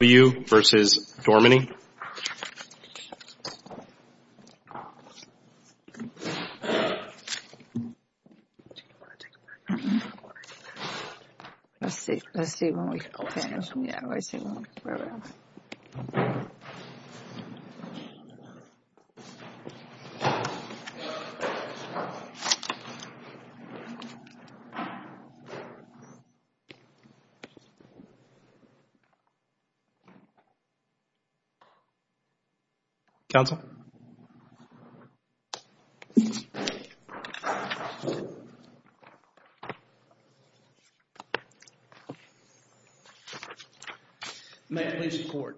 W. W. W. vs. Dorminey May it please the court,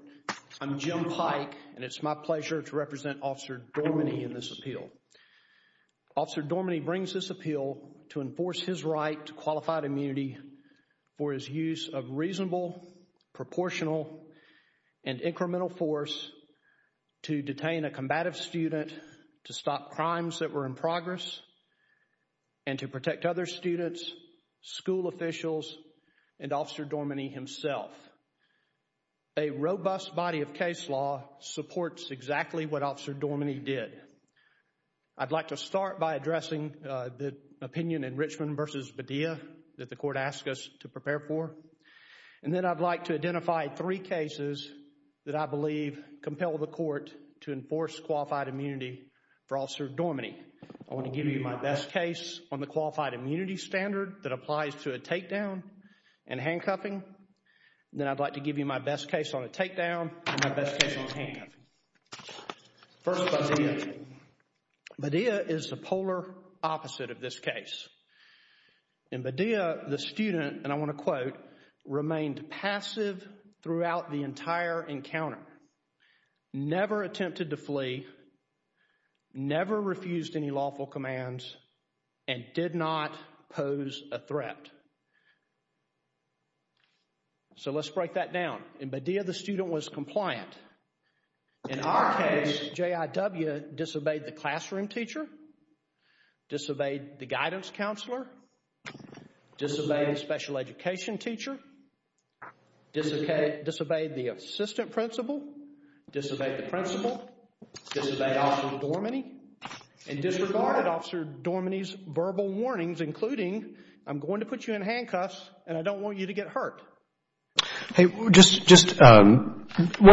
I'm Jim Pike and it's my pleasure to represent Officer Dorminey in this appeal. Officer Dorminey brings this appeal to enforce his right to qualified immunity for his use of reasonable, proportional, and incremental force to detain a combative student, to stop crimes that were in progress, and to protect other students, school officials, and Officer Dorminey himself. A robust body of case law supports exactly what Officer Dorminey did. I'd like to start by addressing the opinion in Richmond vs. Badia that the court asked us to prepare for, and then I'd like to identify three cases that I believe compel the court to enforce qualified immunity for Officer Dorminey. I want to give you my best case on the qualified immunity standard that applies to a takedown and handcuffing, then I'd like to give you my best case on a takedown and my best case on a handcuffing. First, Badia. Badia is the polar opposite of this case. In Badia, the student, and I want to quote, remained passive throughout the entire encounter, never attempted to flee, never refused any lawful commands, and did not pose a threat. So let's break that down. In Badia, the student was compliant. In our case, J.I.W. disobeyed the classroom teacher, disobeyed the guidance counselor, disobeyed the special education teacher, disobeyed the assistant principal, disobeyed the principal, disobeyed Officer Dorminey, and disregarded Officer Dorminey's verbal warnings, including, I'm going to put you in handcuffs and I don't One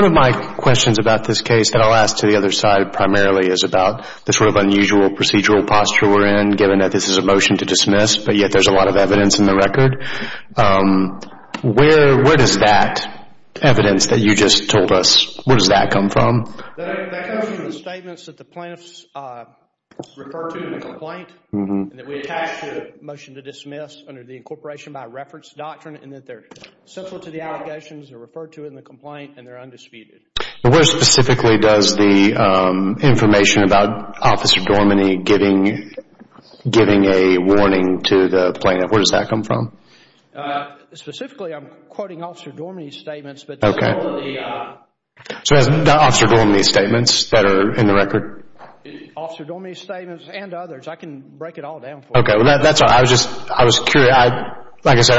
of my questions about this case, and I'll ask to the other side primarily, is about the sort of unusual procedural posture we're in, given that this is a motion to dismiss, but yet there's a lot of evidence in the record. Where does that evidence that you just told us, where does that come from? That comes from the statements that the plaintiffs refer to in the complaint and that we attach to the motion to dismiss under the incorporation by reference doctrine, and that they're central to the allegations, they're referred to in the complaint, and they're undisputed. Where specifically does the information about Officer Dorminey giving a warning to the plaintiff, where does that come from? Specifically, I'm quoting Officer Dorminey's statements, but that's all of the... So it's not Officer Dorminey's statements that are in the record? Officer Dorminey's statements and others, I can break it all down for you. Okay, that's great. I was curious, like I said,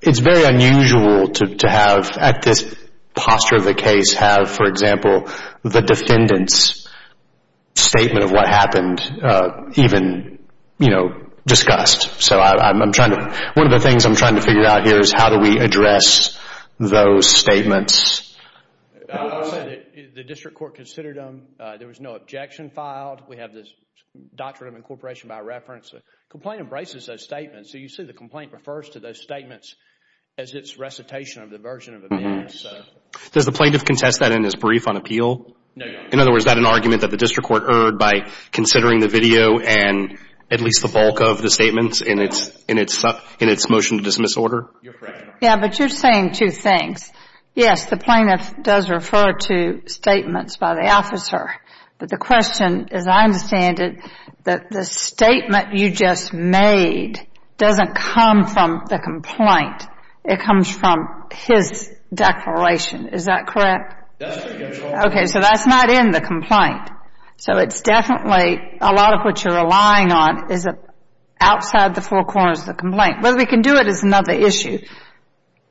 it's very unusual to have, at this posture of the case, have, for example, the defendant's statement of what happened even discussed. So one of the things I'm trying to figure out here is how do we address those statements? The district court considered them, there was no objection filed, we have this doctrine of incorporation by reference, the complaint embraces those statements, so you see the complaint refers to those statements as its recitation of the version of events. Does the plaintiff contest that in his brief on appeal? In other words, is that an argument that the district court heard by considering the video and at least the bulk of the statements in its motion to dismiss order? Yeah, but you're saying two things. Yes, the plaintiff does refer to statements by the officer, but the question, as I understand it, that the statement you just made doesn't come from the complaint, it comes from his declaration, is that correct? Okay, so that's not in the complaint. So it's definitely a lot of what you're relying on is outside the four corners of the complaint. Whether we can do it is another issue,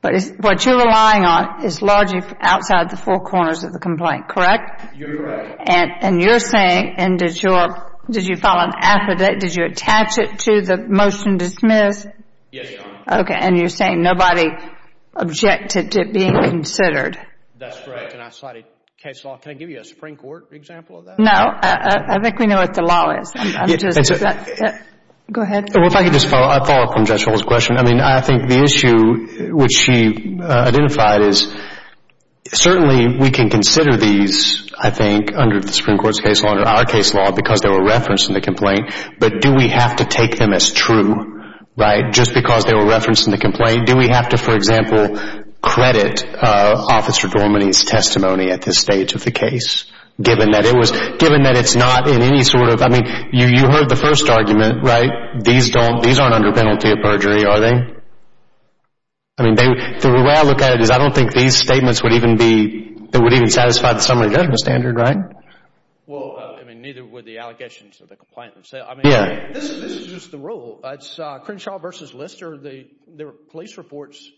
but what you're relying on is largely outside the four corners of the complaint, correct? You're right. And you're saying, and did you file an affidavit, did you attach it to the motion to dismiss? Yes, Your Honor. Okay, and you're saying nobody objected to it being considered. That's right, and I cited case law. Can I give you a Supreme Court example of that? No, I think we know what the law is. Go ahead. Well, if I could just follow up on Judge Holden's question. I mean, I think what we identified is certainly we can consider these, I think, under the Supreme Court's case law, under our case law, because they were referenced in the complaint, but do we have to take them as true, right, just because they were referenced in the complaint? Do we have to, for example, credit Officer Dorminey's testimony at this stage of the case, given that it was, given that it's not in any sort of, I mean, you heard the first argument, right? These don't, these aren't under penalty of crime. I mean, the way I look at it is I don't think these statements would even be, that would even satisfy the summary judgment standard, right? Well, I mean, neither would the allegations of the complaint themselves. I mean, this is just the rule. It's Crenshaw v. Lister, the police reports,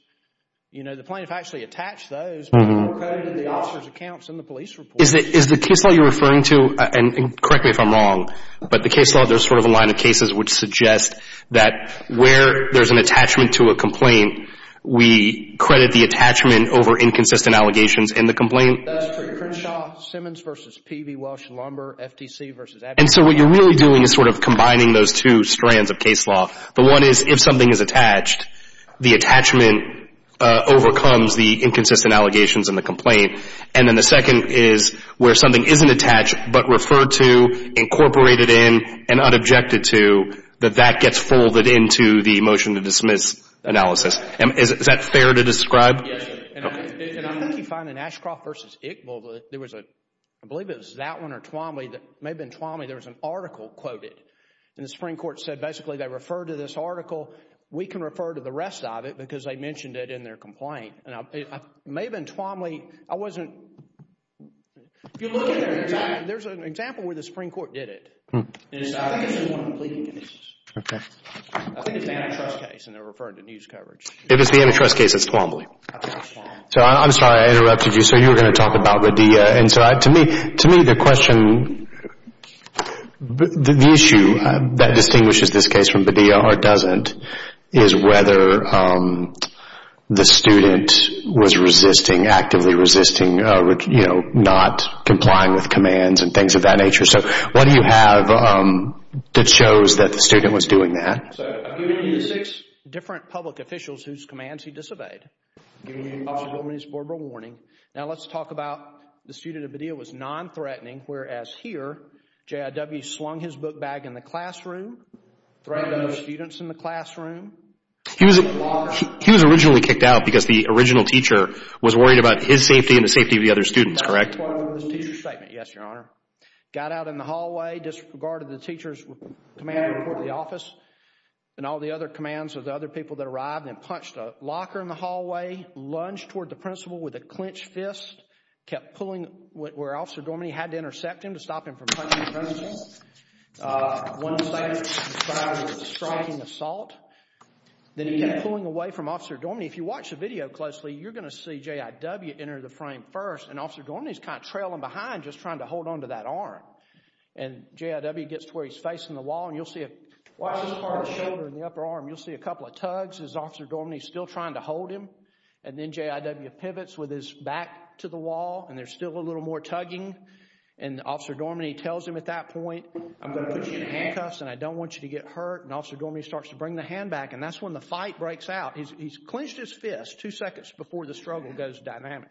you know, the plaintiff actually attached those, but they were credited in the officer's accounts in the police reports. Is the case law you're referring to, and correct me if I'm wrong, but the case law, there's sort of a line of cases which suggest that where there's an attachment to a complaint, we credit the attachment over inconsistent allegations in the complaint? That's true. Crenshaw, Simmons v. Peavey, Welsh, Lumber, FTC v. Abbott. And so what you're really doing is sort of combining those two strands of case law. The one is if something is attached, the attachment overcomes the inconsistent allegations in the complaint. And then the second is where something isn't attached, but referred to, incorporated in, and unobjected to, that that gets folded into the motion to dismiss analysis. Is that fair to describe? Yes. And I think you find in Ashcroft v. Iqbal, there was a, I believe it was that one or Twombly, it may have been Twombly, there was an article quoted. And the Supreme Court said basically they referred to this article. We can refer to the rest of it because they mentioned it in their complaint. And it may have been Twombly. If you look at it, there's an example where the Supreme Court did it. I think it's an antitrust case and they're referring to news coverage. If it's the antitrust case, it's Twombly. So I'm sorry, I interrupted you. So you were going to talk about Baddia. And so to me, the question, the issue that distinguishes this case from Baddia or doesn't is whether the student was resisting, actively resisting not complying with commands and things of that nature. So what do you have that shows that the student was doing that? So I've given you the six different public officials whose commands he disobeyed. I've given you Officer Wilmer's verbal warning. Now let's talk about the student of Baddia was non-threatening, whereas here, J.I.W. slung his book bag in the classroom, threatened the students in the classroom. He was originally kicked out because the original teacher was worried about his safety and the safety of the other students, correct? Yes, Your Honor. Got out in the hallway, disregarded the teacher's command to report to the office and all the other commands of the other people that arrived and punched a locker in the hallway, lunged toward the principal with a clenched fist, kept pulling where Officer Dorminey had to intercept him to stop him from punching the principal. One of the things he decided was a striking assault. Then he kept pulling away from Officer Dorminey. If you watch the video closely, you're going to see J.I.W. enter the frame first and Officer Dorminey's kind of trailing behind just trying to hold on to that arm. And J.I.W. gets to where he's facing the wall and you'll see, watch this part of the shoulder in the upper arm, you'll see a couple of tugs as Officer Dorminey's still trying to hold him. And then J.I.W. pivots with his back to the wall and there's still a little more tugging. And Officer Dorminey tells him at that point, I'm going to put you in handcuffs and I don't want you to get hurt. And Officer Dorminey starts to bring the hand back and that's when the fight breaks out. He's clenched his fist two seconds before the struggle goes dynamic.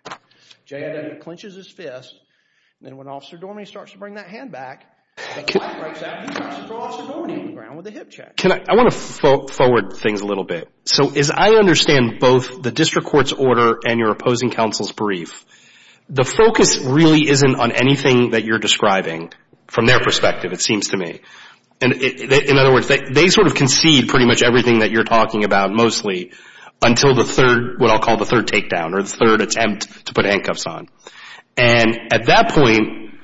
J.I.W. clenches his fist and then when Officer Dorminey starts to bring that hand back, the fight breaks out and he drops Officer Dorminey on the ground with a hip check. I want to forward things a little bit. So as I understand both the district court's order and your opposing counsel's brief, the focus really isn't on anything that you're describing from their perspective, it seems to me. In other words, they sort of concede pretty much everything that you're talking about mostly until the third, what I'll call the third takedown or the third attempt to put handcuffs on. And at that point,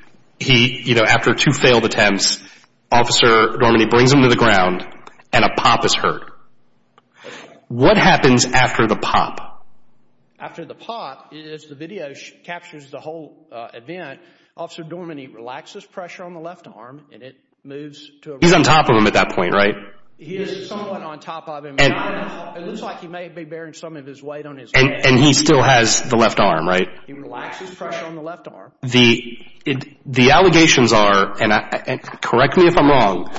after two failed attempts, Officer Dorminey brings him to the ground and a pop is heard. What happens after the pop? After the pop, as the video captures the whole event, Officer Dorminey relaxes pressure on the left arm and it moves to a… He's on top of him at that point, right? He is somewhat on top of him. It looks like he may be bearing some of his weight on his head. And he still has the left arm, right? He relaxes pressure on the left arm. The allegations are, and correct me if I'm wrong,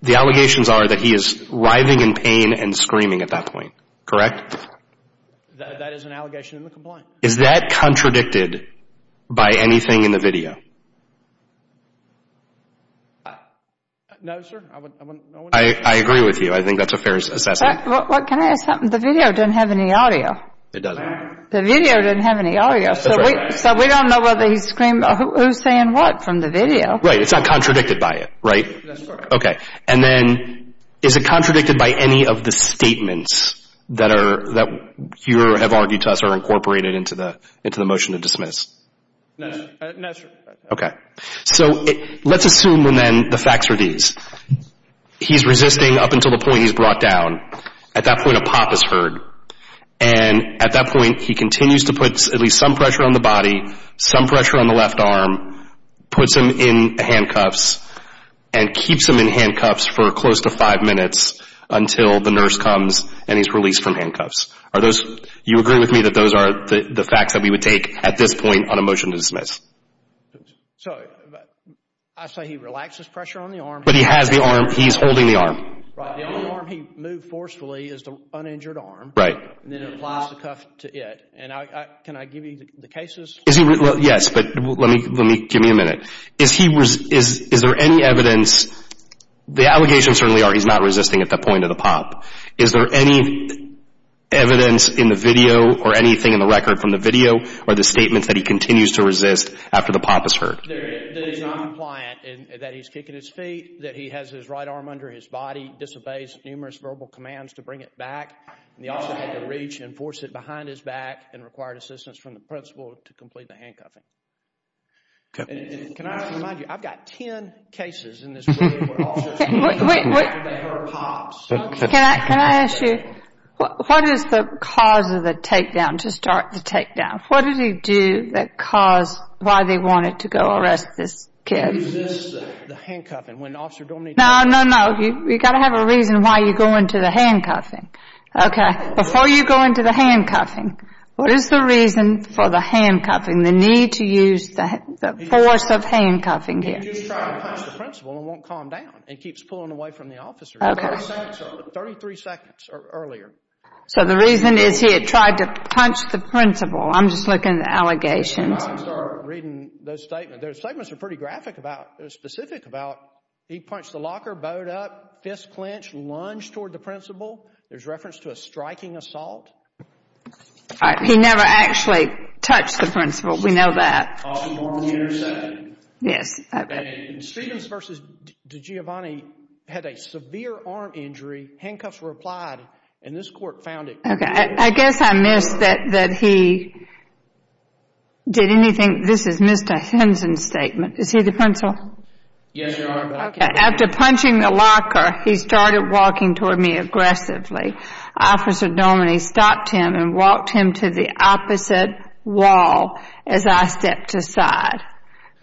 the allegations are that he is writhing in pain and screaming at that point, correct? That is an allegation in the complaint. Is that contradicted by anything in the video? No, sir. I agree with you. I think that's a fair assessment. Can I ask something? The video doesn't have any audio. It doesn't. The video doesn't have any audio, so we don't know whether he's screaming. Who's saying what from the video? Right, it's not contradicted by it, right? No, sir. Okay. And then is it contradicted by any of the statements that you have argued to us are incorporated into the motion to dismiss? No, sir. Okay. So let's assume then the facts are these. He's resisting up until the point he's brought down. At that point, a pop is heard. And at that point, he continues to put at least some pressure on the body, some pressure on the left arm, puts him in handcuffs, and keeps him in handcuffs for close to five minutes until the nurse comes and he's released from handcuffs. Are those – you agree with me that those are the facts that we would take at this point on a motion to dismiss? So I say he relaxes pressure on the arm. But he has the arm. He's holding the arm. Right. The only arm he moved forcefully is the uninjured arm. Right. And then applies the cuff to it. And can I give you the cases? Yes, but let me – give me a minute. Is there any evidence – the allegations certainly are he's not resisting at the point of the pop. Is there any evidence in the video or anything in the record from the video or the statements that he continues to resist after the pop is heard? That he's not compliant, that he's kicking his feet, that he has his right arm under his body, disobeys numerous verbal commands to bring it back. And he also had to reach and force it behind his back and required assistance from the principal to complete the handcuffing. Can I remind you, I've got 10 cases in this room where officers – Wait, wait, wait. Can I ask you, what is the cause of the takedown, to start the takedown? Now, what did he do that caused – why they wanted to go arrest this kid? He resists the handcuffing when the officer don't need to. No, no, no. You've got to have a reason why you go into the handcuffing. Okay. Before you go into the handcuffing, what is the reason for the handcuffing, the need to use the force of handcuffing here? He just tried to punch the principal and won't calm down and keeps pulling away from the officer. Okay. 33 seconds earlier. So the reason is he had tried to punch the principal. I'm just looking at the allegations. I'm going to start reading those statements. Those statements are pretty graphic about – they're specific about he punched the locker, bowed up, fist clenched, lunged toward the principal. There's reference to a striking assault. He never actually touched the principal. We know that. Yes. Stevens v. DiGiovanni had a severe arm injury. Handcuffs were applied, and this court found it. Okay. I guess I missed that he did anything. This is Mr. Henson's statement. Is he the principal? Yes, Your Honor. After punching the locker, he started walking toward me aggressively. Officer Domeney stopped him and walked him to the opposite wall as I stepped aside.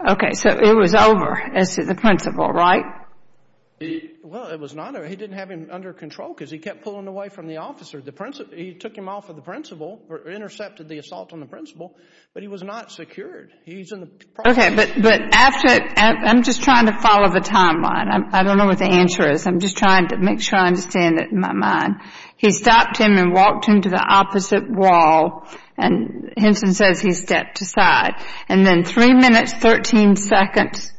Okay. So it was over as to the principal, right? Well, it was not over. He didn't have him under control because he kept pulling away from the officer. He took him off of the principal or intercepted the assault on the principal, but he was not secured. Okay. But after – I'm just trying to follow the timeline. I don't know what the answer is. I'm just trying to make sure I understand it in my mind. He stopped him and walked him to the opposite wall, and Henson says he stepped aside. And then three minutes, 13 seconds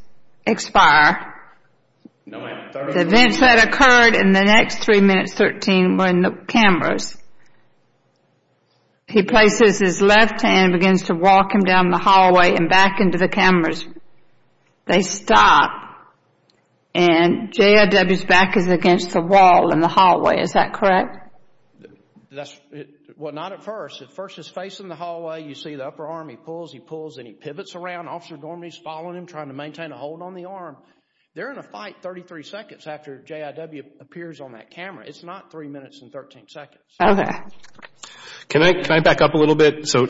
expire. No, ma'am. The events that occurred in the next three minutes, 13, were in the cameras. He places his left hand and begins to walk him down the hallway and back into the cameras. They stop, and JRW's back is against the wall in the hallway. Is that correct? Well, not at first. At first, he's facing the hallway. You see the upper arm. He pulls, he pulls, and he pivots around. Officer Dorminey's following him, trying to maintain a hold on the arm. They're in a fight 33 seconds after JRW appears on that camera. It's not three minutes and 13 seconds. Okay. Can I back up a little bit? So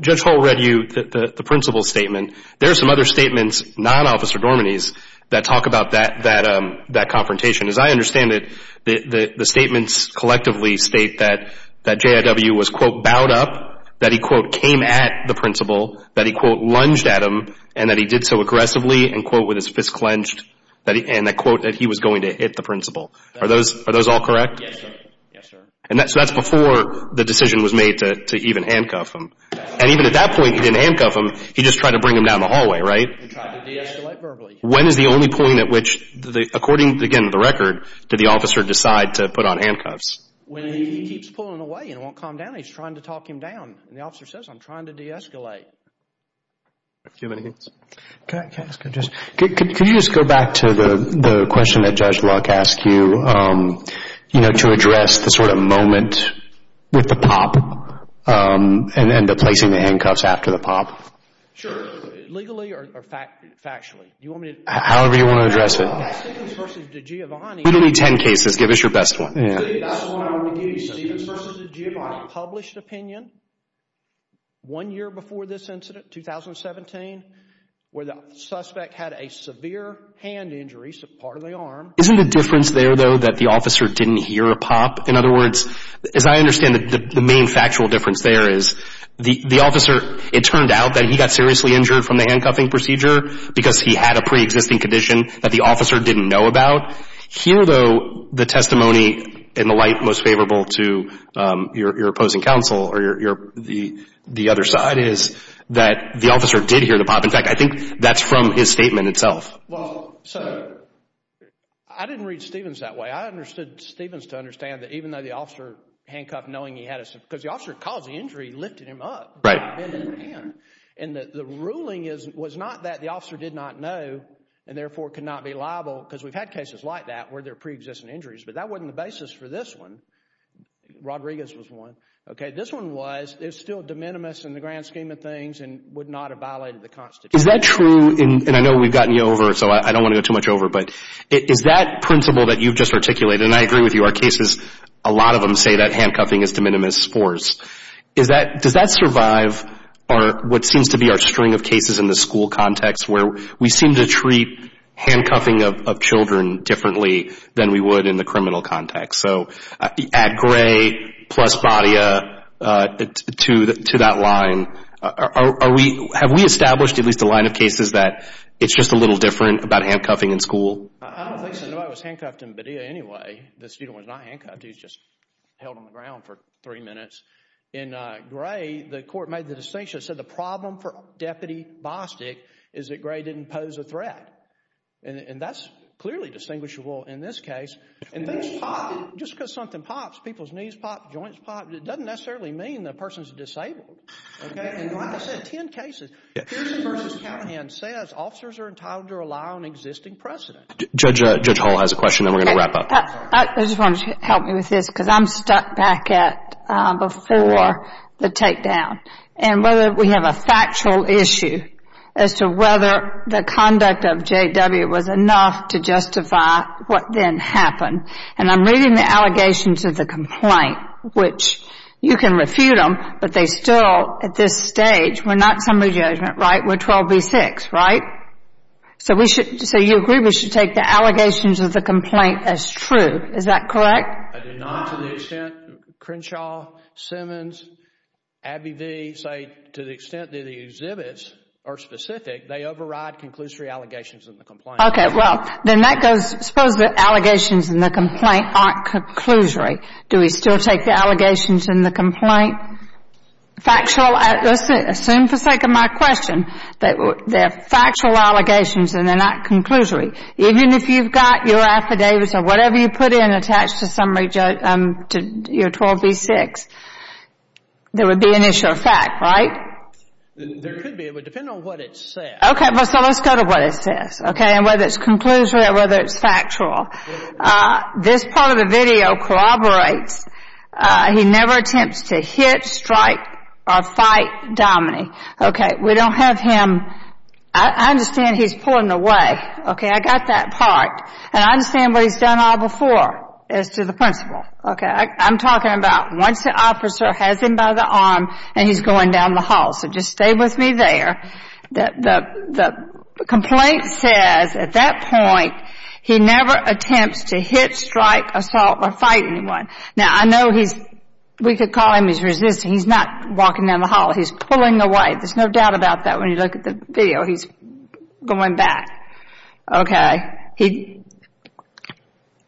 Judge Hall read you the principal's statement. There are some other statements, not Officer Dorminey's, that talk about that confrontation. As I understand it, the statements collectively state that JRW was, quote, bowed up, that he, quote, came at the principal, that he, quote, lunged at him, and that he did so aggressively and, quote, with his fist clenched, and that, quote, that he was going to hit the principal. Are those all correct? Yes, sir. Yes, sir. So that's before the decision was made to even handcuff him. And even at that point, he didn't handcuff him. He just tried to bring him down the hallway, right? He tried to de-escalate verbally. When is the only point at which, according, again, to the record, did the officer decide to put on handcuffs? When he keeps pulling away and won't calm down, he's trying to talk him down. And the officer says, I'm trying to de-escalate. Do you have anything else? Can I ask a question? Could you just go back to the question that Judge Luck asked you, you know, to address the sort of moment with the pop and the placing the handcuffs after the pop? Sure. Legally or factually? However you want to address it. We don't need 10 cases. Give us your best one. That's the one I want to give you, Stevens v. DiGiovanni. Published opinion one year before this incident, 2017, where the suspect had a severe hand injury, part of the arm. Isn't the difference there, though, that the officer didn't hear a pop? In other words, as I understand it, the main factual difference there is the officer, it turned out that he got seriously injured from the handcuffing procedure because he had a pre-existing condition that the officer didn't know about. Here, though, the testimony in the light most favorable to your opposing counsel or the other side is that the officer did hear the pop. In fact, I think that's from his statement itself. Well, so I didn't read Stevens that way. I understood Stevens to understand that even though the officer handcuffed knowing he had a severe, because the officer caused the injury, lifted him up. Right. And the ruling was not that the officer did not know and therefore could not be liable, because we've had cases like that where there are pre-existing injuries, but that wasn't the basis for this one. Rodriguez was one. Okay, this one was, it's still de minimis in the grand scheme of things and would not have violated the Constitution. Is that true, and I know we've gotten you over, so I don't want to go too much over, but is that principle that you've just articulated, and I agree with you, our cases, a lot of them say that handcuffing is de minimis force. Does that survive what seems to be our string of cases in the school context where we seem to treat handcuffing of children differently than we would in the criminal context? So add Gray plus Badia to that line. Have we established at least a line of cases that it's just a little different about handcuffing in school? I don't think so. Nobody was handcuffed in Badia anyway. The student was not handcuffed. He was just held on the ground for three minutes. In Gray, the court made the distinction that said the problem for Deputy Bostic is that Gray didn't pose a threat, and that's clearly distinguishable in this case. And things pop. Just because something pops, people's knees pop, joints pop, it doesn't necessarily mean the person is disabled. Okay, and like I said, ten cases. Houston v. Callahan says officers are entitled to rely on existing precedent. Judge Hall has a question, then we're going to wrap up. I just want you to help me with this because I'm stuck back at before the takedown and whether we have a factual issue as to whether the conduct of J.W. was enough to justify what then happened. And I'm reading the allegations of the complaint, which you can refute them, but they still at this stage were not summary judgment, right? We're 12B6, right? So we should, so you agree we should take the allegations of the complaint as true. Is that correct? I do not. To the extent Crenshaw, Simmons, Abbey v. say to the extent that the exhibits are specific, they override conclusory allegations in the complaint. Okay, well, then that goes, suppose the allegations in the complaint aren't conclusory. Do we still take the allegations in the complaint factual? Well, let's assume for the sake of my question that they're factual allegations and they're not conclusory. Even if you've got your affidavits or whatever you put in attached to your 12B6, there would be an issue of fact, right? There could be. It would depend on what it says. Okay, well, so let's go to what it says, okay, and whether it's conclusory or whether it's factual. This part of the video corroborates, he never attempts to hit, strike, or fight Dominey. Okay, we don't have him, I understand he's pulling away. Okay, I got that part. And I understand what he's done all before as to the principal. Okay, I'm talking about once the officer has him by the arm and he's going down the hall. So just stay with me there. The complaint says, at that point, he never attempts to hit, strike, assault, or fight anyone. Now, I know he's, we could call him, he's resisting. He's not walking down the hall. He's pulling away. There's no doubt about that when you look at the video. He's going back. Okay,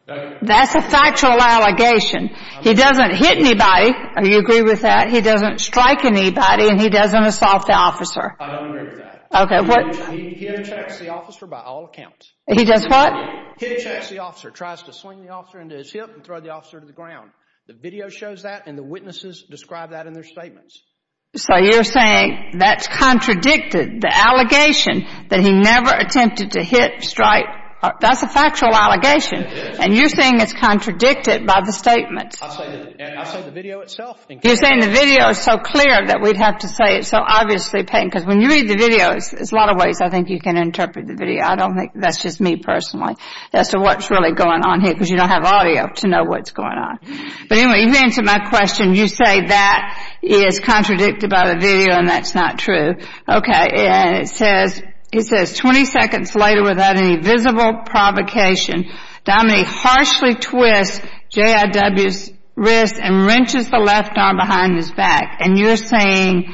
that's a factual allegation. He doesn't hit anybody. Do you agree with that? He doesn't strike anybody and he doesn't assault the officer. I don't agree with that. Okay, what? He attacks the officer by all accounts. He does what? He attacks the officer, tries to swing the officer into his hip and throw the officer to the ground. The video shows that and the witnesses describe that in their statements. So you're saying that's contradicted, the allegation that he never attempted to hit, strike. That's a factual allegation. And you're saying it's contradicted by the statements. I say the video itself. You're saying the video is so clear that we'd have to say it's so obviously patent. Because when you read the video, there's a lot of ways I think you can interpret the video. I don't think that's just me personally as to what's really going on here because you don't have audio to know what's going on. But anyway, you've answered my question. You say that is contradicted by the video and that's not true. Okay, and it says, it says, 20 seconds later without any visible provocation, Dominique harshly twists J.I.W.'s wrist and wrenches the left arm behind his back. And you're saying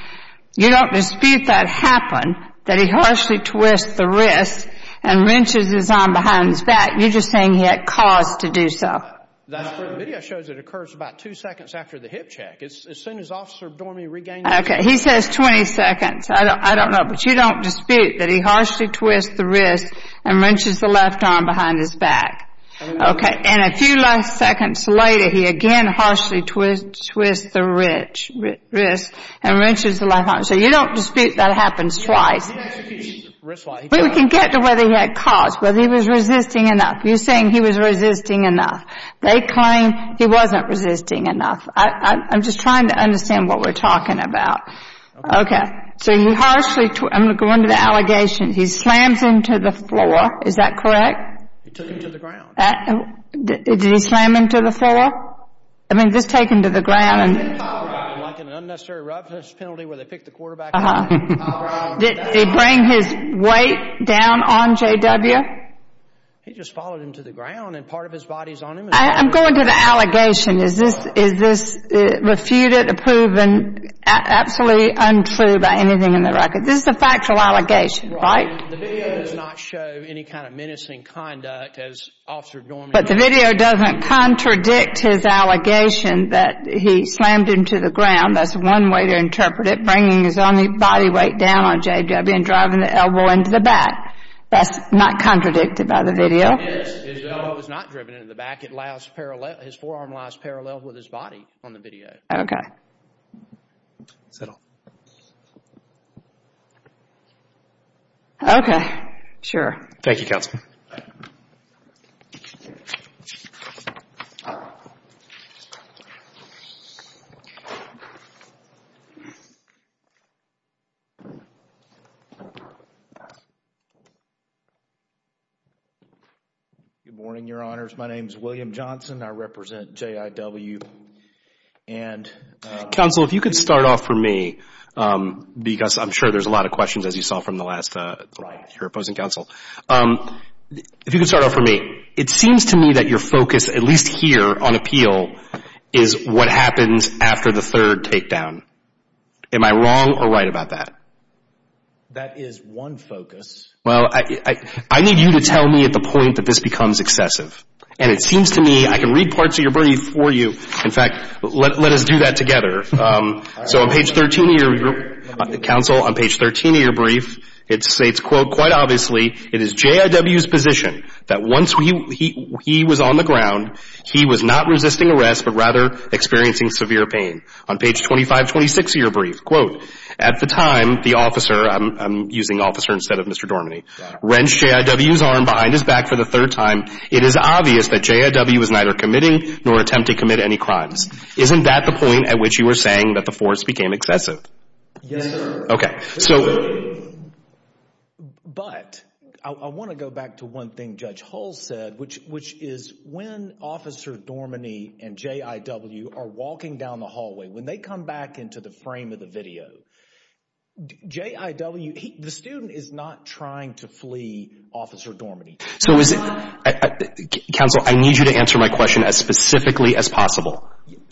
you don't dispute that happened, that he harshly twists the wrist and wrenches his arm behind his back. You're just saying he had cause to do so. That's true. The video shows it occurs about two seconds after the hip check. As soon as Officer Dormey regained consciousness. Okay, he says 20 seconds. I don't know, but you don't dispute that he harshly twists the wrist and wrenches the left arm behind his back. Okay, and a few last seconds later, he again harshly twists the wrist and wrenches the left arm. So you don't dispute that happens twice. But we can get to whether he had cause, whether he was resisting enough. You're saying he was resisting enough. They claim he wasn't resisting enough. I'm just trying to understand what we're talking about. Okay, so he harshly, I'm going to go into the allegation, he slams him to the floor. Is that correct? He took him to the ground. Did he slam him to the floor? I mean, just take him to the ground. Like an unnecessary roughness penalty where they pick the quarterback up. Uh-huh. They bring his weight down on JW? He just followed him to the ground and part of his body is on him. I'm going to the allegation. I mean, is this refuted or proven absolutely untrue by anything in the record? This is a factual allegation, right? The video does not show any kind of menacing conduct as Officer Dormier does. But the video doesn't contradict his allegation that he slammed him to the ground. That's one way to interpret it, bringing his only body weight down on JW and driving the elbow into the back. That's not contradicted by the video. His elbow is not driven into the back. His forearm lies parallel with his body on the video. Okay. That's all. Okay. Sure. Thank you, Counsel. Good morning, Your Honors. My name is William Johnson. I represent JIW. Counsel, if you could start off for me because I'm sure there's a lot of questions, as you saw from the last hearing opposing counsel. If you could start off for me, it seems to me that your focus, at least here on appeal, is what happens after the third takedown. Am I wrong or right about that? That is one focus. Well, I need you to tell me at the point that this becomes excessive. And it seems to me I can read parts of your brief for you. In fact, let us do that together. So on page 13 of your brief, Counsel, on page 13 of your brief, it states, quote, Quite obviously, it is JIW's position that once he was on the ground, he was not resisting arrest but rather experiencing severe pain. On page 2526 of your brief, quote, At the time, the officer, I'm using officer instead of Mr. Dorminey, wrenched JIW's arm behind his back for the third time. It is obvious that JIW was neither committing nor attempting to commit any crimes. Isn't that the point at which you were saying that the force became excessive? Yes, sir. Okay. But I want to go back to one thing Judge Hull said, which is when Officer Dorminey and JIW are walking down the hallway, when they come back into the frame of the video, JIW, the student is not trying to flee Officer Dorminey. Counsel, I need you to answer my question as specifically as possible.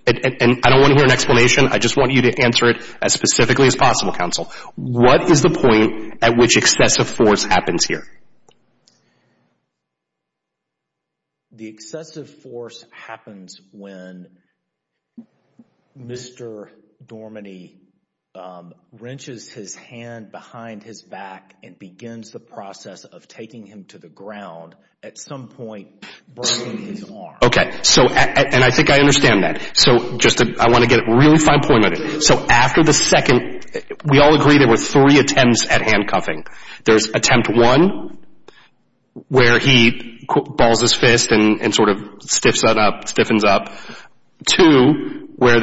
And I don't want to hear an explanation. I just want you to answer it as specifically as possible, Counsel. What is the point at which excessive force happens here? The excessive force happens when Mr. Dorminey wrenches his hand behind his back and begins the process of taking him to the ground, at some point, burning his arm. Okay. And I think I understand that. So I want to get a really fine point on it. So after the second, we all agree there were three attempts at handcuffing. There's attempt one, where he balls his fist and sort of stiffens up. Two, where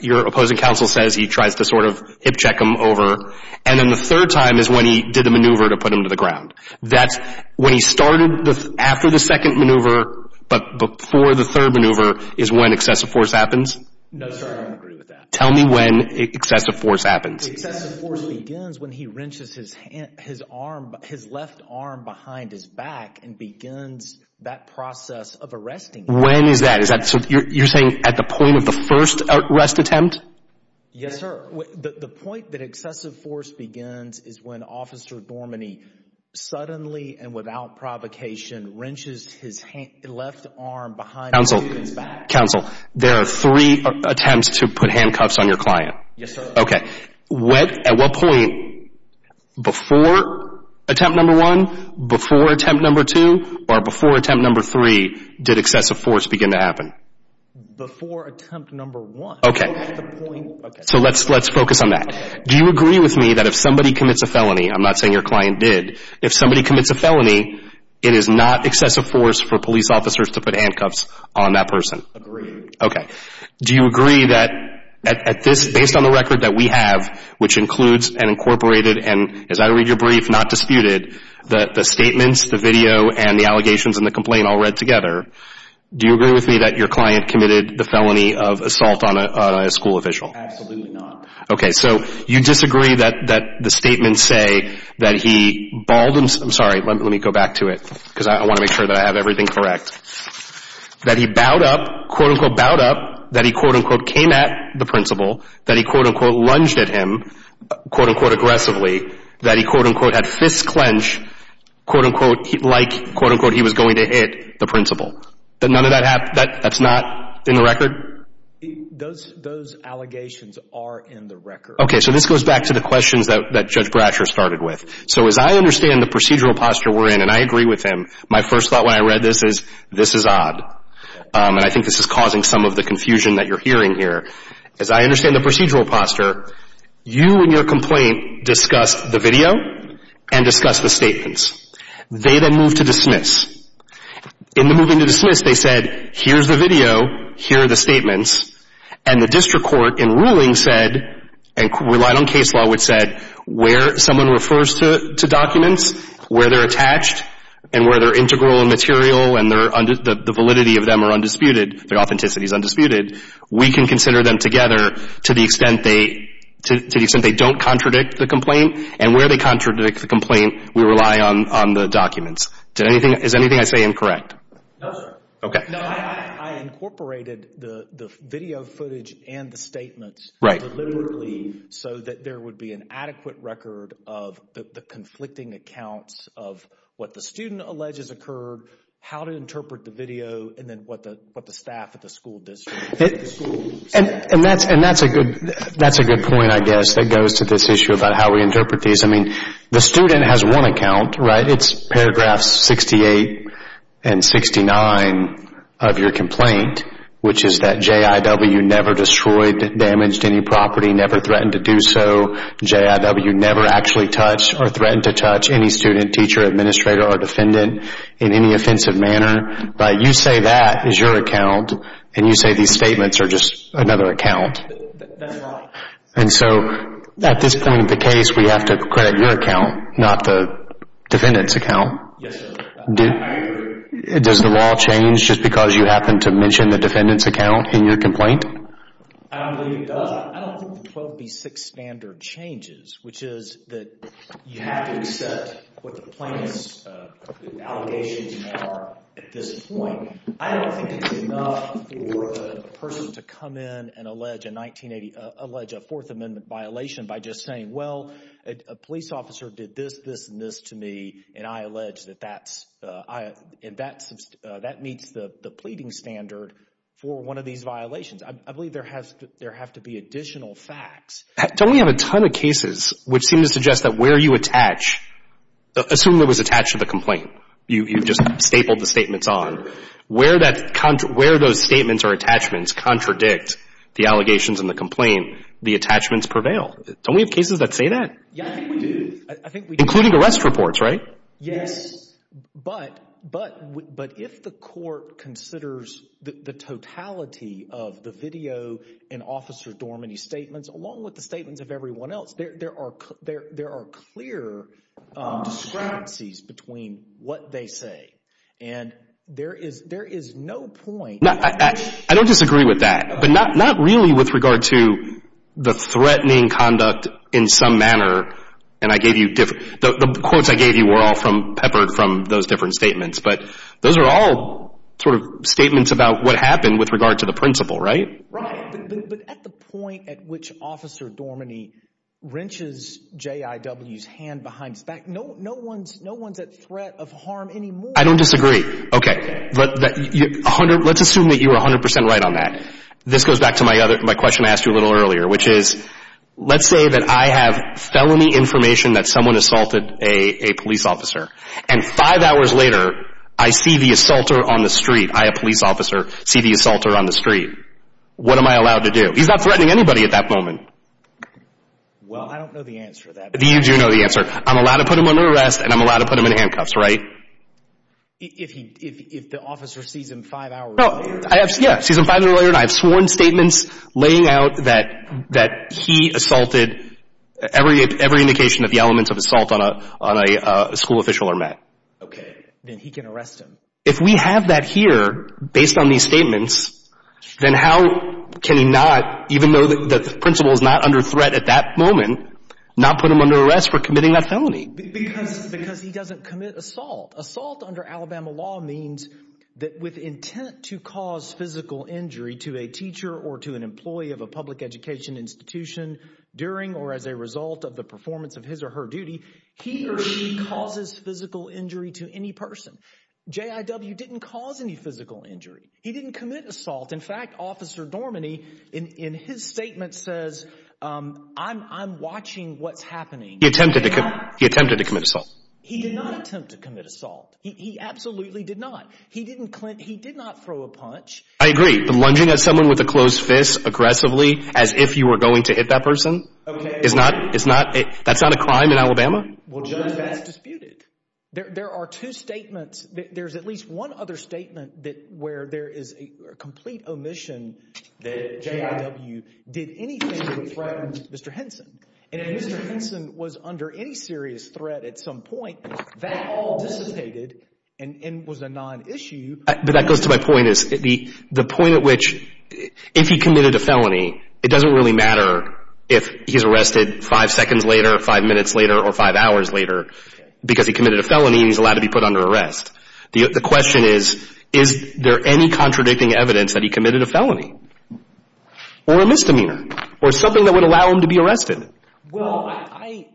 your opposing counsel says he tries to sort of hip check him over. And then the third time is when he did the maneuver to put him to the ground. When he started after the second maneuver but before the third maneuver is when excessive force happens? No, sir, I don't agree with that. Tell me when excessive force happens. Excessive force begins when he wrenches his left arm behind his back and begins that process of arresting him. When is that? You're saying at the point of the first arrest attempt? Yes, sir. The point that excessive force begins is when Officer Dormany suddenly and without provocation wrenches his left arm behind his back. Counsel, there are three attempts to put handcuffs on your client. Yes, sir. Okay. At what point before attempt number one, before attempt number two, or before attempt number three did excessive force begin to happen? Before attempt number one. Okay. So let's focus on that. Do you agree with me that if somebody commits a felony, I'm not saying your client did, if somebody commits a felony, it is not excessive force for police officers to put handcuffs on that person? Agreed. Okay. Do you agree that based on the record that we have, which includes an incorporated and, as I read your brief, not disputed, the statements, the video, and the allegations and the complaint all read together, do you agree with me that your client committed the felony of assault on a school official? Absolutely not. Okay. So you disagree that the statements say that he bawled himself, I'm sorry, let me go back to it because I want to make sure that I have everything correct, that he bowed up, quote, unquote, bowed up, that he, quote, unquote, came at the principal, that he, quote, unquote, lunged at him, quote, unquote, aggressively, that he, quote, unquote, had fists clenched, quote, unquote, like, quote, unquote, he was going to hit the principal, that none of that, that's not in the record? Those allegations are in the record. Okay. So this goes back to the questions that Judge Brasher started with. So as I understand the procedural posture we're in, and I agree with him, my first thought when I read this is this is odd, and I think this is causing some of the confusion that you're hearing here. As I understand the procedural posture, you and your complaint discussed the video and discussed the statements. They then moved to dismiss. In the moving to dismiss, they said here's the video, here are the statements, and the district court in ruling said and relied on case law which said where someone refers to documents, where they're attached and where they're integral and material and the validity of them are undisputed, their authenticity is undisputed, we can consider them together to the extent they don't contradict the complaint, and where they contradict the complaint, we rely on the documents. Is anything I say incorrect? No, sir. Okay. No, I incorporated the video footage and the statements deliberately so that there would be an adequate record of the conflicting accounts of what the student alleges occurred, how to interpret the video, and then what the staff at the school did. And that's a good point, I guess, that goes to this issue about how we interpret these. I mean, the student has one account, right? It's paragraphs 68 and 69 of your complaint, which is that JIW never destroyed, damaged any property, never threatened to do so. JIW never actually touched or threatened to touch any student, teacher, administrator, or defendant in any offensive manner. But you say that is your account, and you say these statements are just another account. That's right. And so at this point in the case, we have to credit your account, not the defendant's account. Yes, sir. Does the law change just because you happen to mention the defendant's account in your complaint? I don't believe it does. I don't think the 12B6 standard changes, which is that you have to accept what the plaintiff's allegations are at this point. I don't think it's enough for a person to come in and allege a 1980—allege a Fourth Amendment violation by just saying, well, a police officer did this, this, and this to me, and I allege that that meets the pleading standard for one of these violations. I believe there have to be additional facts. Don't we have a ton of cases which seem to suggest that where you attach—assume it was attached to the complaint. You just stapled the statements on. Where those statements or attachments contradict the allegations in the complaint, the attachments prevail. Don't we have cases that say that? Yeah, I think we do. I think we do. Including arrest reports, right? Yes. But if the court considers the totality of the video and Officer Dormany's statements, along with the statements of everyone else, there are clear discrepancies between what they say. And there is no point— I don't disagree with that. But not really with regard to the threatening conduct in some manner. And I gave you—the quotes I gave you were all peppered from those different statements. But those are all sort of statements about what happened with regard to the principal, right? Right. But at the point at which Officer Dormany wrenches J.I.W.'s hand behind his back, no one's at threat of harm anymore. I don't disagree. Okay. Let's assume that you are 100 percent right on that. This goes back to my question I asked you a little earlier, which is, let's say that I have felony information that someone assaulted a police officer. And five hours later, I see the assaulter on the street. I, a police officer, see the assaulter on the street. What am I allowed to do? He's not threatening anybody at that moment. Well, I don't know the answer to that. You do know the answer. I'm allowed to put him under arrest, and I'm allowed to put him in handcuffs, right? If he, if the officer sees him five hours later. No, I have, yeah, sees him five hours later, and I have sworn statements laying out that he assaulted, every indication of the elements of assault on a school official or mat. Okay. Then he can arrest him. If we have that here, based on these statements, then how can he not, even though the principal is not under threat at that moment, not put him under arrest for committing that felony? Because he doesn't commit assault. Assault under Alabama law means that with intent to cause physical injury to a teacher or to an employee of a public education institution during or as a result of the performance of his or her duty, he or she causes physical injury to any person. J.I.W. didn't cause any physical injury. He didn't commit assault. In fact, Officer Dorminey, in his statement, says, I'm watching what's happening. He attempted to, he attempted to commit assault. He did not attempt to commit assault. He absolutely did not. He didn't, he did not throw a punch. I agree. Lunging at someone with a closed fist aggressively as if you were going to hit that person is not, is not, that's not a crime in Alabama. Well, Judge Bass disputed. There are two statements. There's at least one other statement that where there is a complete omission that J.I.W. did anything to threaten Mr. Henson. And if Mr. Henson was under any serious threat at some point, that all dissipated and was a non-issue. But that goes to my point is the point at which if he committed a felony, it doesn't really matter if he's arrested five seconds later, five minutes later, or five hours later because he committed a felony and he's allowed to be put under arrest. The question is, is there any contradicting evidence that he committed a felony or a misdemeanor or something that would allow him to be arrested? Well, I.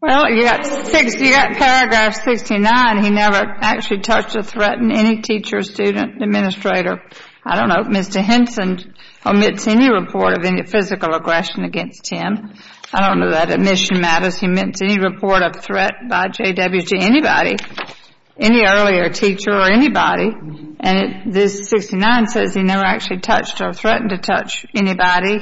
Well, you got paragraph 69. He never actually touched or threatened any teacher, student, administrator. I don't know if Mr. Henson omits any report of any physical aggression against him. I don't know that omission matters. He omits any report of threat by J.I.W. to anybody, any earlier teacher or anybody. And this 69 says he never actually touched or threatened to touch anybody.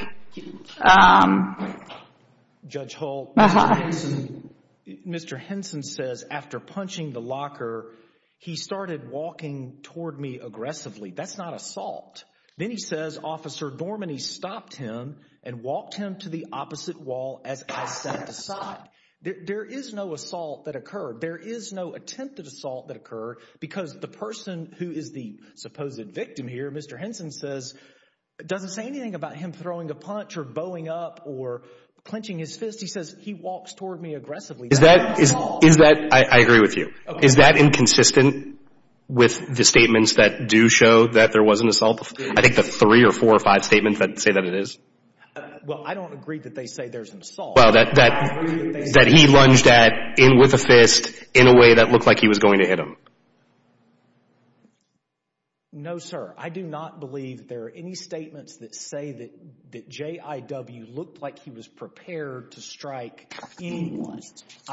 Judge Hull, Mr. Henson says after punching the locker, he started walking toward me aggressively. That's not assault. Then he says Officer Dormaney stopped him and walked him to the opposite wall as I sat aside. There is no assault that occurred. There is no attempted assault that occurred because the person who is the supposed victim here, Mr. Henson says, doesn't say anything about him throwing a punch or bowing up or clenching his fist. He says he walks toward me aggressively. Is that. Is that. I agree with you. Is that inconsistent with the statements that do show that there was an assault? I think the three or four or five statements that say that it is. Well, I don't agree that they say there's an assault. Well, that that that he lunged at in with a fist in a way that looked like he was going to hit him. No, sir. I do not believe there are any statements that say that that J.I.W. looked like he was prepared to strike anyone.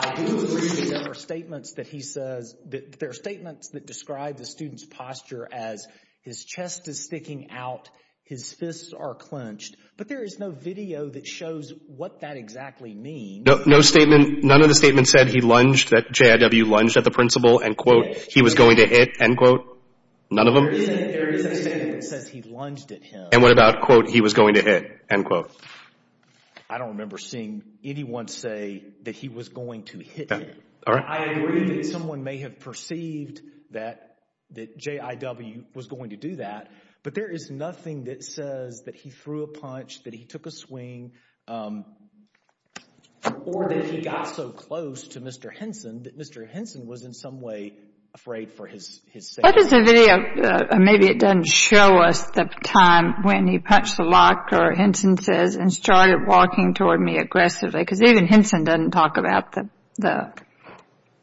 There are statements that he says that there are statements that describe the student's posture as his chest is sticking out. His fists are clenched. But there is no video that shows what that exactly means. No statement. None of the statements said he lunged, that J.I.W. lunged at the principal and, quote, he was going to hit, end quote. None of them. There is a statement that says he lunged at him. And what about, quote, he was going to hit, end quote. I don't remember seeing anyone say that he was going to hit him. All right. And I agree that someone may have perceived that J.I.W. was going to do that, but there is nothing that says that he threw a punch, that he took a swing, or that he got so close to Mr. Henson that Mr. Henson was in some way afraid for his safety. What is the video? Maybe it doesn't show us the time when he punched the locker, Henson says, and started walking toward me aggressively. Because even Henson doesn't talk about the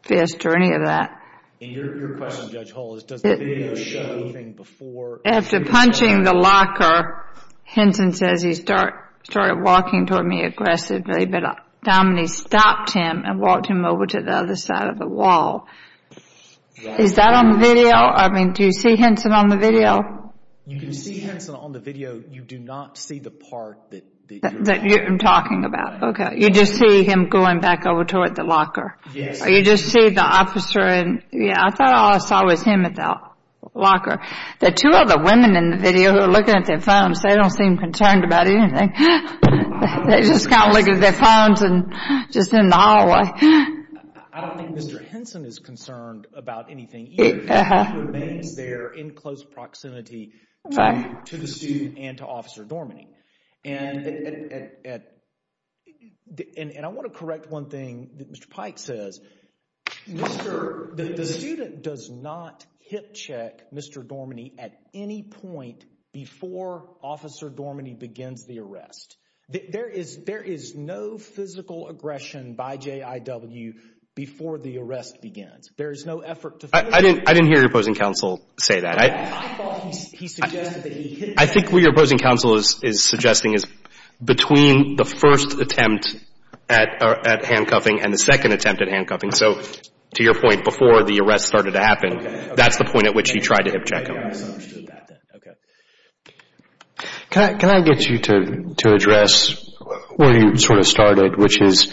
fist or any of that. And your question, Judge Hall, is does the video show anything before? After punching the locker, Henson says he started walking toward me aggressively, but Domini stopped him and walked him over to the other side of the wall. Is that on the video? I mean, do you see Henson on the video? You can see Henson on the video. You do not see the part that you're talking about. Okay. You just see him going back over toward the locker. Yes. Or you just see the officer and, yeah, I thought all I saw was him at the locker. The two other women in the video who are looking at their phones, they don't seem concerned about anything. They just kind of look at their phones and just in the hallway. I don't think Mr. Henson is concerned about anything either. He remains there in close proximity to the student and to Officer Dorminey. And I want to correct one thing that Mr. Pike says. The student does not hip check Mr. Dorminey at any point before Officer Dorminey begins the arrest. There is no physical aggression by JIW before the arrest begins. I didn't hear your opposing counsel say that. I think what your opposing counsel is suggesting is between the first attempt at handcuffing and the second attempt at handcuffing, so to your point, before the arrest started to happen, that's the point at which he tried to hip check him. Can I get you to address where you sort of started, which is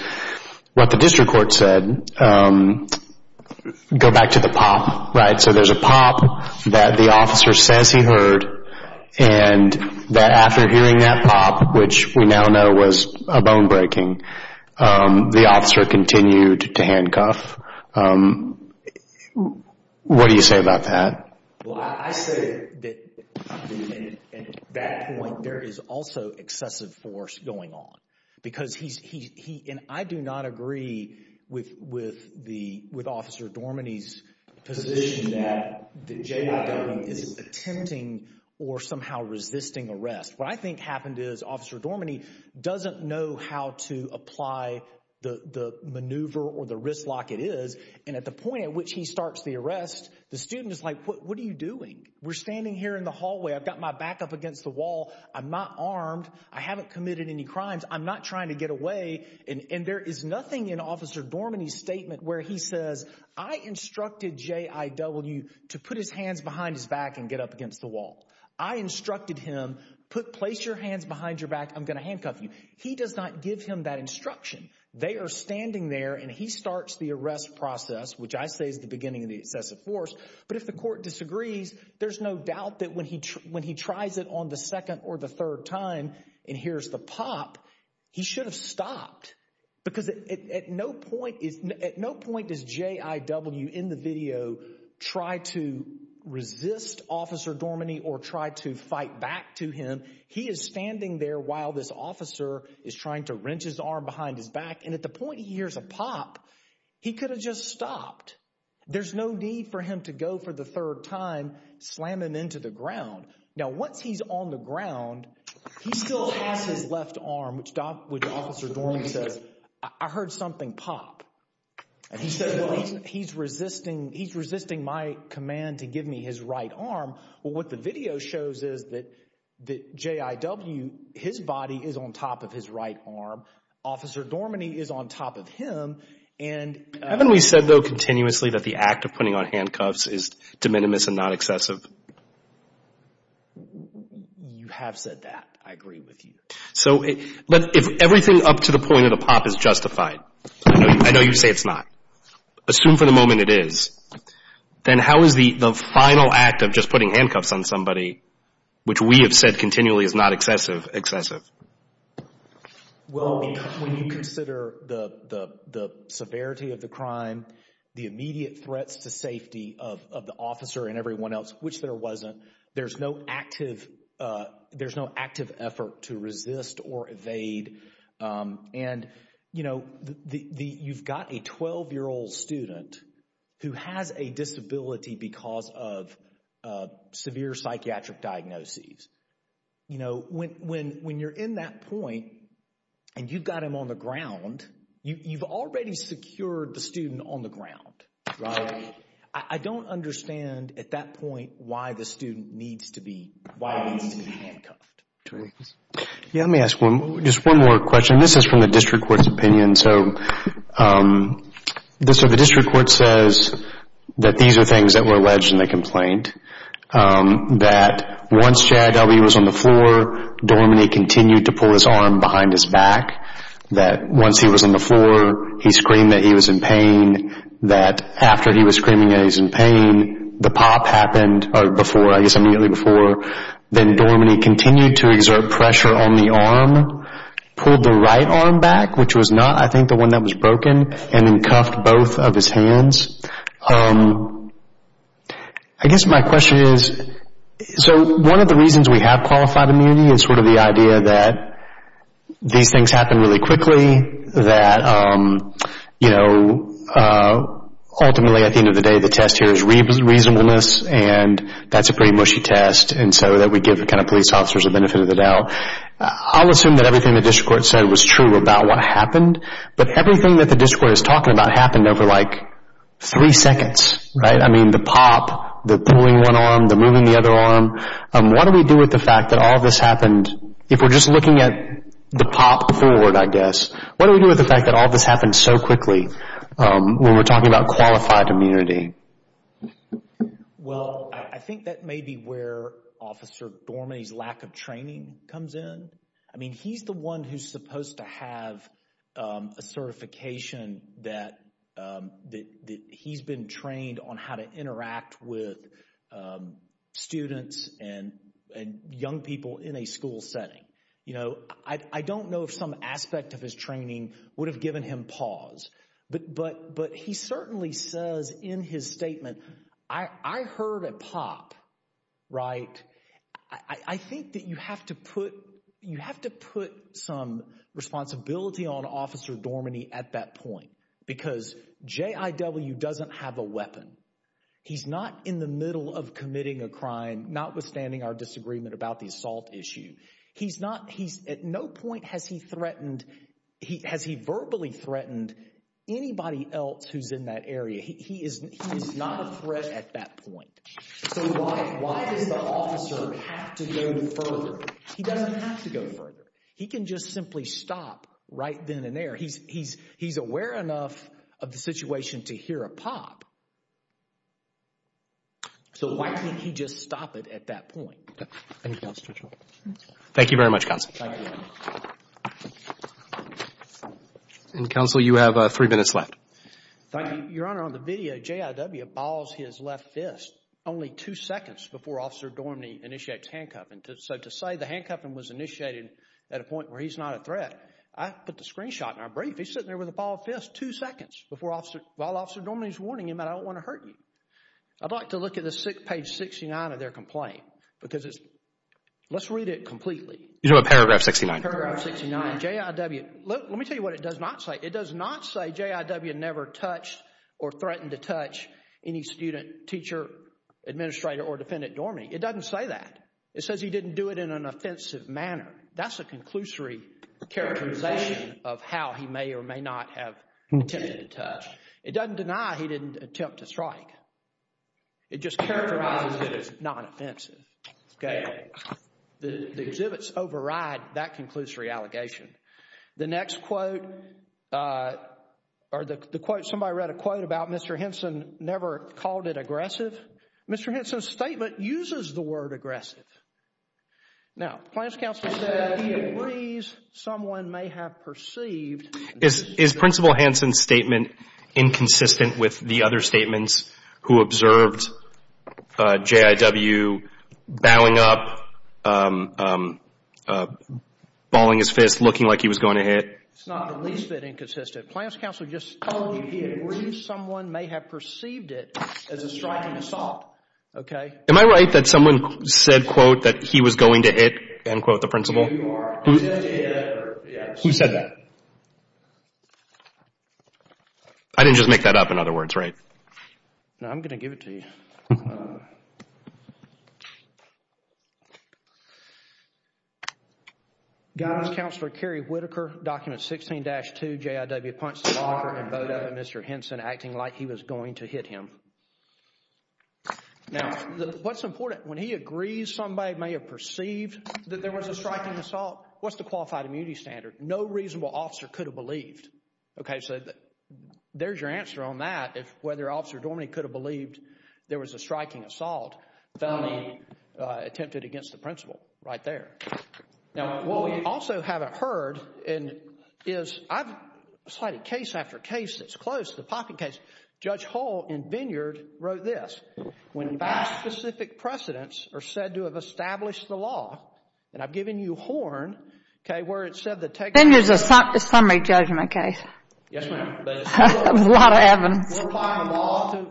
what the district court said, go back to the pop, right? So there's a pop that the officer says he heard and that after hearing that pop, which we now know was a bone breaking, the officer continued to handcuff. What do you say about that? Well, I say that at that point there is also excessive force going on and I do not agree with Officer Dorminey's position that the JIW is attempting or somehow resisting arrest. What I think happened is Officer Dorminey doesn't know how to apply the maneuver or the wrist lock it is, and at the point at which he starts the arrest, the student is like, what are you doing? We're standing here in the hallway. I've got my back up against the wall. I'm not armed. I haven't committed any crimes. I'm not trying to get away. And there is nothing in Officer Dorminey's statement where he says, I instructed JIW to put his hands behind his back and get up against the wall. I instructed him, put place your hands behind your back. I'm going to handcuff you. He does not give him that instruction. They are standing there and he starts the arrest process, which I say is the beginning of the excessive force. But if the court disagrees, there's no doubt that when he when he tries it on the second or the third time, and here's the pop, he should have stopped because at no point is at no point is J.I.W. in the video try to resist Officer Dorminey or try to fight back to him. He is standing there while this officer is trying to wrench his arm behind his back. And at the point he hears a pop, he could have just stopped. There's no need for him to go for the third time slamming into the ground. Now, once he's on the ground, he still has his left arm, which Officer Dorminey says, I heard something pop. And he says, well, he's resisting. He's resisting my command to give me his right arm. Well, what the video shows is that that J.I.W., his body is on top of his right arm. Officer Dorminey is on top of him. Haven't we said, though, continuously that the act of putting on handcuffs is de minimis and not excessive? You have said that. I agree with you. But if everything up to the point of the pop is justified, I know you say it's not. Assume for the moment it is, then how is the final act of just putting handcuffs on somebody, Well, when you consider the severity of the crime, the immediate threats to safety of the officer and everyone else, which there wasn't, there's no active effort to resist or evade. And, you know, you've got a 12-year-old student who has a disability because of severe psychiatric diagnoses. You know, when you're in that point and you've got him on the ground, you've already secured the student on the ground. Right? I don't understand at that point why the student needs to be handcuffed. Yeah, let me ask just one more question. This is from the district court's opinion. So the district court says that these are things that were alleged in the complaint. That once J.I.W. was on the floor, Dorminey continued to pull his arm behind his back. That once he was on the floor, he screamed that he was in pain. That after he was screaming that he was in pain, the pop happened before, I guess immediately before. Then Dorminey continued to exert pressure on the arm, pulled the right arm back, which was not, I think, the one that was broken, and then cuffed both of his hands. I guess my question is, so one of the reasons we have qualified immunity is sort of the idea that these things happen really quickly, that, you know, ultimately at the end of the day, the test here is reasonableness, and that's a pretty mushy test, and so that we give the kind of police officers the benefit of the doubt. I'll assume that everything the district court said was true about what happened, but everything that the district court is talking about happened over like three seconds, right? I mean, the pop, the pulling one arm, the moving the other arm. What do we do with the fact that all of this happened? If we're just looking at the pop forward, I guess, what do we do with the fact that all of this happened so quickly when we're talking about qualified immunity? Well, I think that may be where Officer Dorminey's lack of training comes in. I mean, he's the one who's supposed to have a certification that he's been trained on how to interact with students and young people in a school setting. You know, I don't know if some aspect of his training would have given him pause, but he certainly says in his statement, I heard a pop, right? I think that you have to put some responsibility on Officer Dorminey at that point because J.I.W. doesn't have a weapon. He's not in the middle of committing a crime, notwithstanding our disagreement about the assault issue. He's at no point has he verbally threatened anybody else who's in that area. He is not a threat at that point. So why does the officer have to go further? He doesn't have to go further. He can just simply stop right then and there. He's aware enough of the situation to hear a pop. So why can't he just stop it at that point? Anything else to add? Thank you very much, Counsel. And Counsel, you have three minutes left. Thank you, Your Honor. On the video, J.I.W. balls his left fist only two seconds before Officer Dorminey initiates handcuffing. So to say the handcuffing was initiated at a point where he's not a threat, I put the screenshot in our brief. He's sitting there with a ball of fists two seconds while Officer Dorminey is warning him that I don't want to hurt you. I'd like to look at page 69 of their complaint because it's – let's read it completely. You drew a paragraph 69. Paragraph 69. J.I.W. Let me tell you what it does not say. It does not say J.I.W. never touched or threatened to touch any student, teacher, administrator, or defendant, Dorminey. It doesn't say that. It says he didn't do it in an offensive manner. That's a conclusory characterization of how he may or may not have attempted to touch. It doesn't deny he didn't attempt to strike. It just characterizes it as non-offensive. The exhibits override that conclusory allegation. The next quote or the quote – somebody read a quote about Mr. Henson never called it aggressive. Mr. Henson's statement uses the word aggressive. Now, Plaintiff's counsel said he agrees someone may have perceived Is Principal Henson's statement inconsistent with the other statements who observed J.I.W. bowing up, bawling his fist, looking like he was going to hit. It's not the least bit inconsistent. Plaintiff's counsel just told you he agrees someone may have perceived it as a striking assault. Am I right that someone said, quote, that he was going to hit, end quote, the principal? Who said that? I didn't just make that up, in other words, right? No, I'm going to give it to you. Guys, Counselor Kerry Whitaker, document 16-2, J.I.W., punched the locker and bowed up Mr. Henson acting like he was going to hit him. Now, what's important, when he agrees somebody may have perceived that there was a striking assault, what's the qualified immunity standard? No reasonable officer could have believed. Okay, so there's your answer on that, whether Officer Dorminey could have believed there was a striking assault. Felony attempted against the principal, right there. Now, what we also haven't heard is, I've cited case after case that's close to the pocket case. Judge Hull in Vineyard wrote this, when vast specific precedents are said to have established the law, and I've given you Horn, okay, where it said that technically... Vineyard's a summary judgment case. Yes, ma'am. There's a lot of evidence.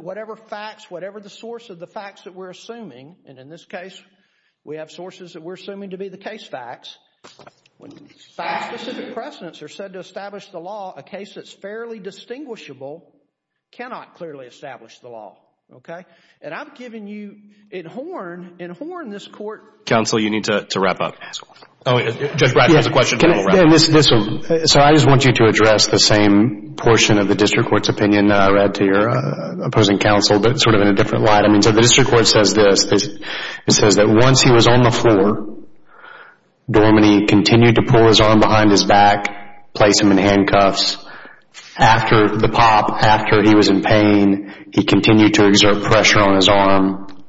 Whatever facts, whatever the source of the facts that we're assuming, and in this case we have sources that we're assuming to be the case facts, when vast specific precedents are said to establish the law, a case that's fairly distinguishable cannot clearly establish the law, okay? And I've given you in Horn, in Horn this court... Counsel, you need to wrap up. Judge Bradford has a question. Sir, I just want you to address the same portion of the district court's opinion that I read to your opposing counsel, but sort of in a different light. I mean, so the district court says this. It says that once he was on the floor, Dorminey continued to pull his arm behind his back, place him in handcuffs. After the pop, after he was in pain, he continued to exert pressure on his arm.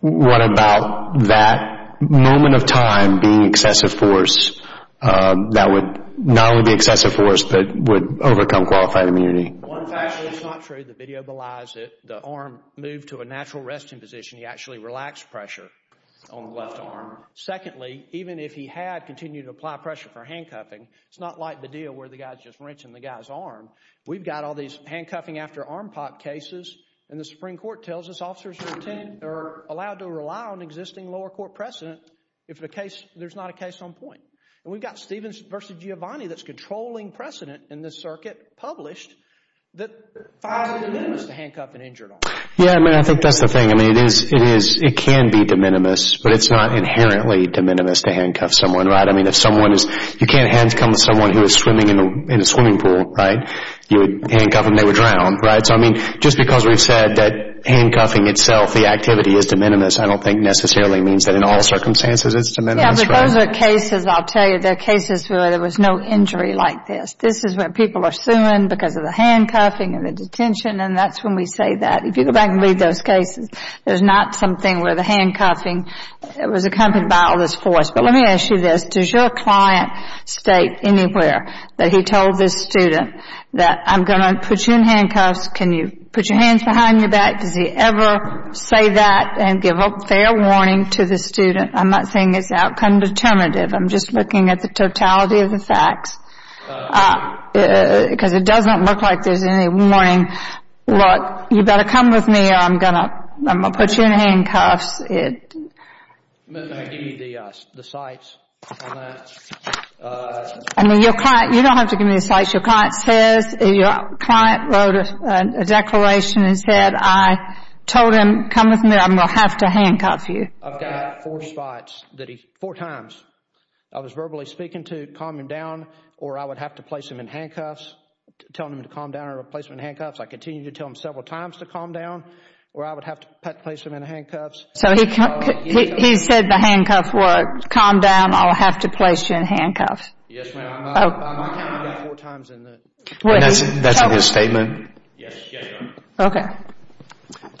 What about that moment of time being excessive force that would not only be excessive force, but would overcome qualified immunity? One factor that's not true, the video belies it, the arm moved to a natural resting position. He actually relaxed pressure on the left arm. Secondly, even if he had continued to apply pressure for handcuffing, it's not like the deal where the guy's just wrenching the guy's arm. We've got all these handcuffing after arm pop cases, and the Supreme Court tells us officers are allowed to rely on existing lower court precedent if there's not a case on point. And we've got Stevens v. Giovanni that's controlling precedent in this circuit published that files are de minimis to handcuff an injured officer. Yeah, I mean, I think that's the thing. I mean, it can be de minimis, but it's not inherently de minimis to handcuff someone. I mean, you can't handcuff someone who is swimming in a swimming pool, right? You would handcuff them, they would drown, right? So, I mean, just because we've said that handcuffing itself, the activity, is de minimis, I don't think necessarily means that in all circumstances it's de minimis. Yeah, but those are cases, I'll tell you, they're cases where there was no injury like this. This is where people are suing because of the handcuffing and the detention, and that's when we say that. If you go back and read those cases, there's not something where the handcuffing was accompanied by all this force. But let me ask you this. Does your client state anywhere that he told this student that I'm going to put you in handcuffs? Can you put your hands behind your back? Does he ever say that and give a fair warning to the student? I'm not saying it's outcome determinative. I'm just looking at the totality of the facts because it doesn't look like there's any warning. Look, you better come with me or I'm going to put you in handcuffs. May I give you the cites on that? I mean, your client, you don't have to give me the cites. Your client says, your client wrote a declaration and said I told him, come with me or I'm going to have to handcuff you. I've got four spots that he, four times I was verbally speaking to calm him down or I would have to place him in handcuffs, telling him to calm down or place him in handcuffs. I continued to tell him several times to calm down or I would have to place him in handcuffs. So he said the handcuffs worked. Calm down, I'll have to place you in handcuffs. Yes, ma'am. I might tell him that four times. That's in his statement? Yes, ma'am. Okay.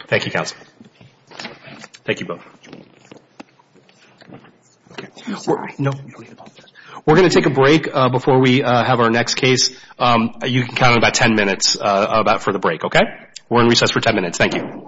Thank you, counsel. Thank you both. We're going to take a break before we have our next case. You can count on about ten minutes for the break, okay? We're in recess for ten minutes. Thank you.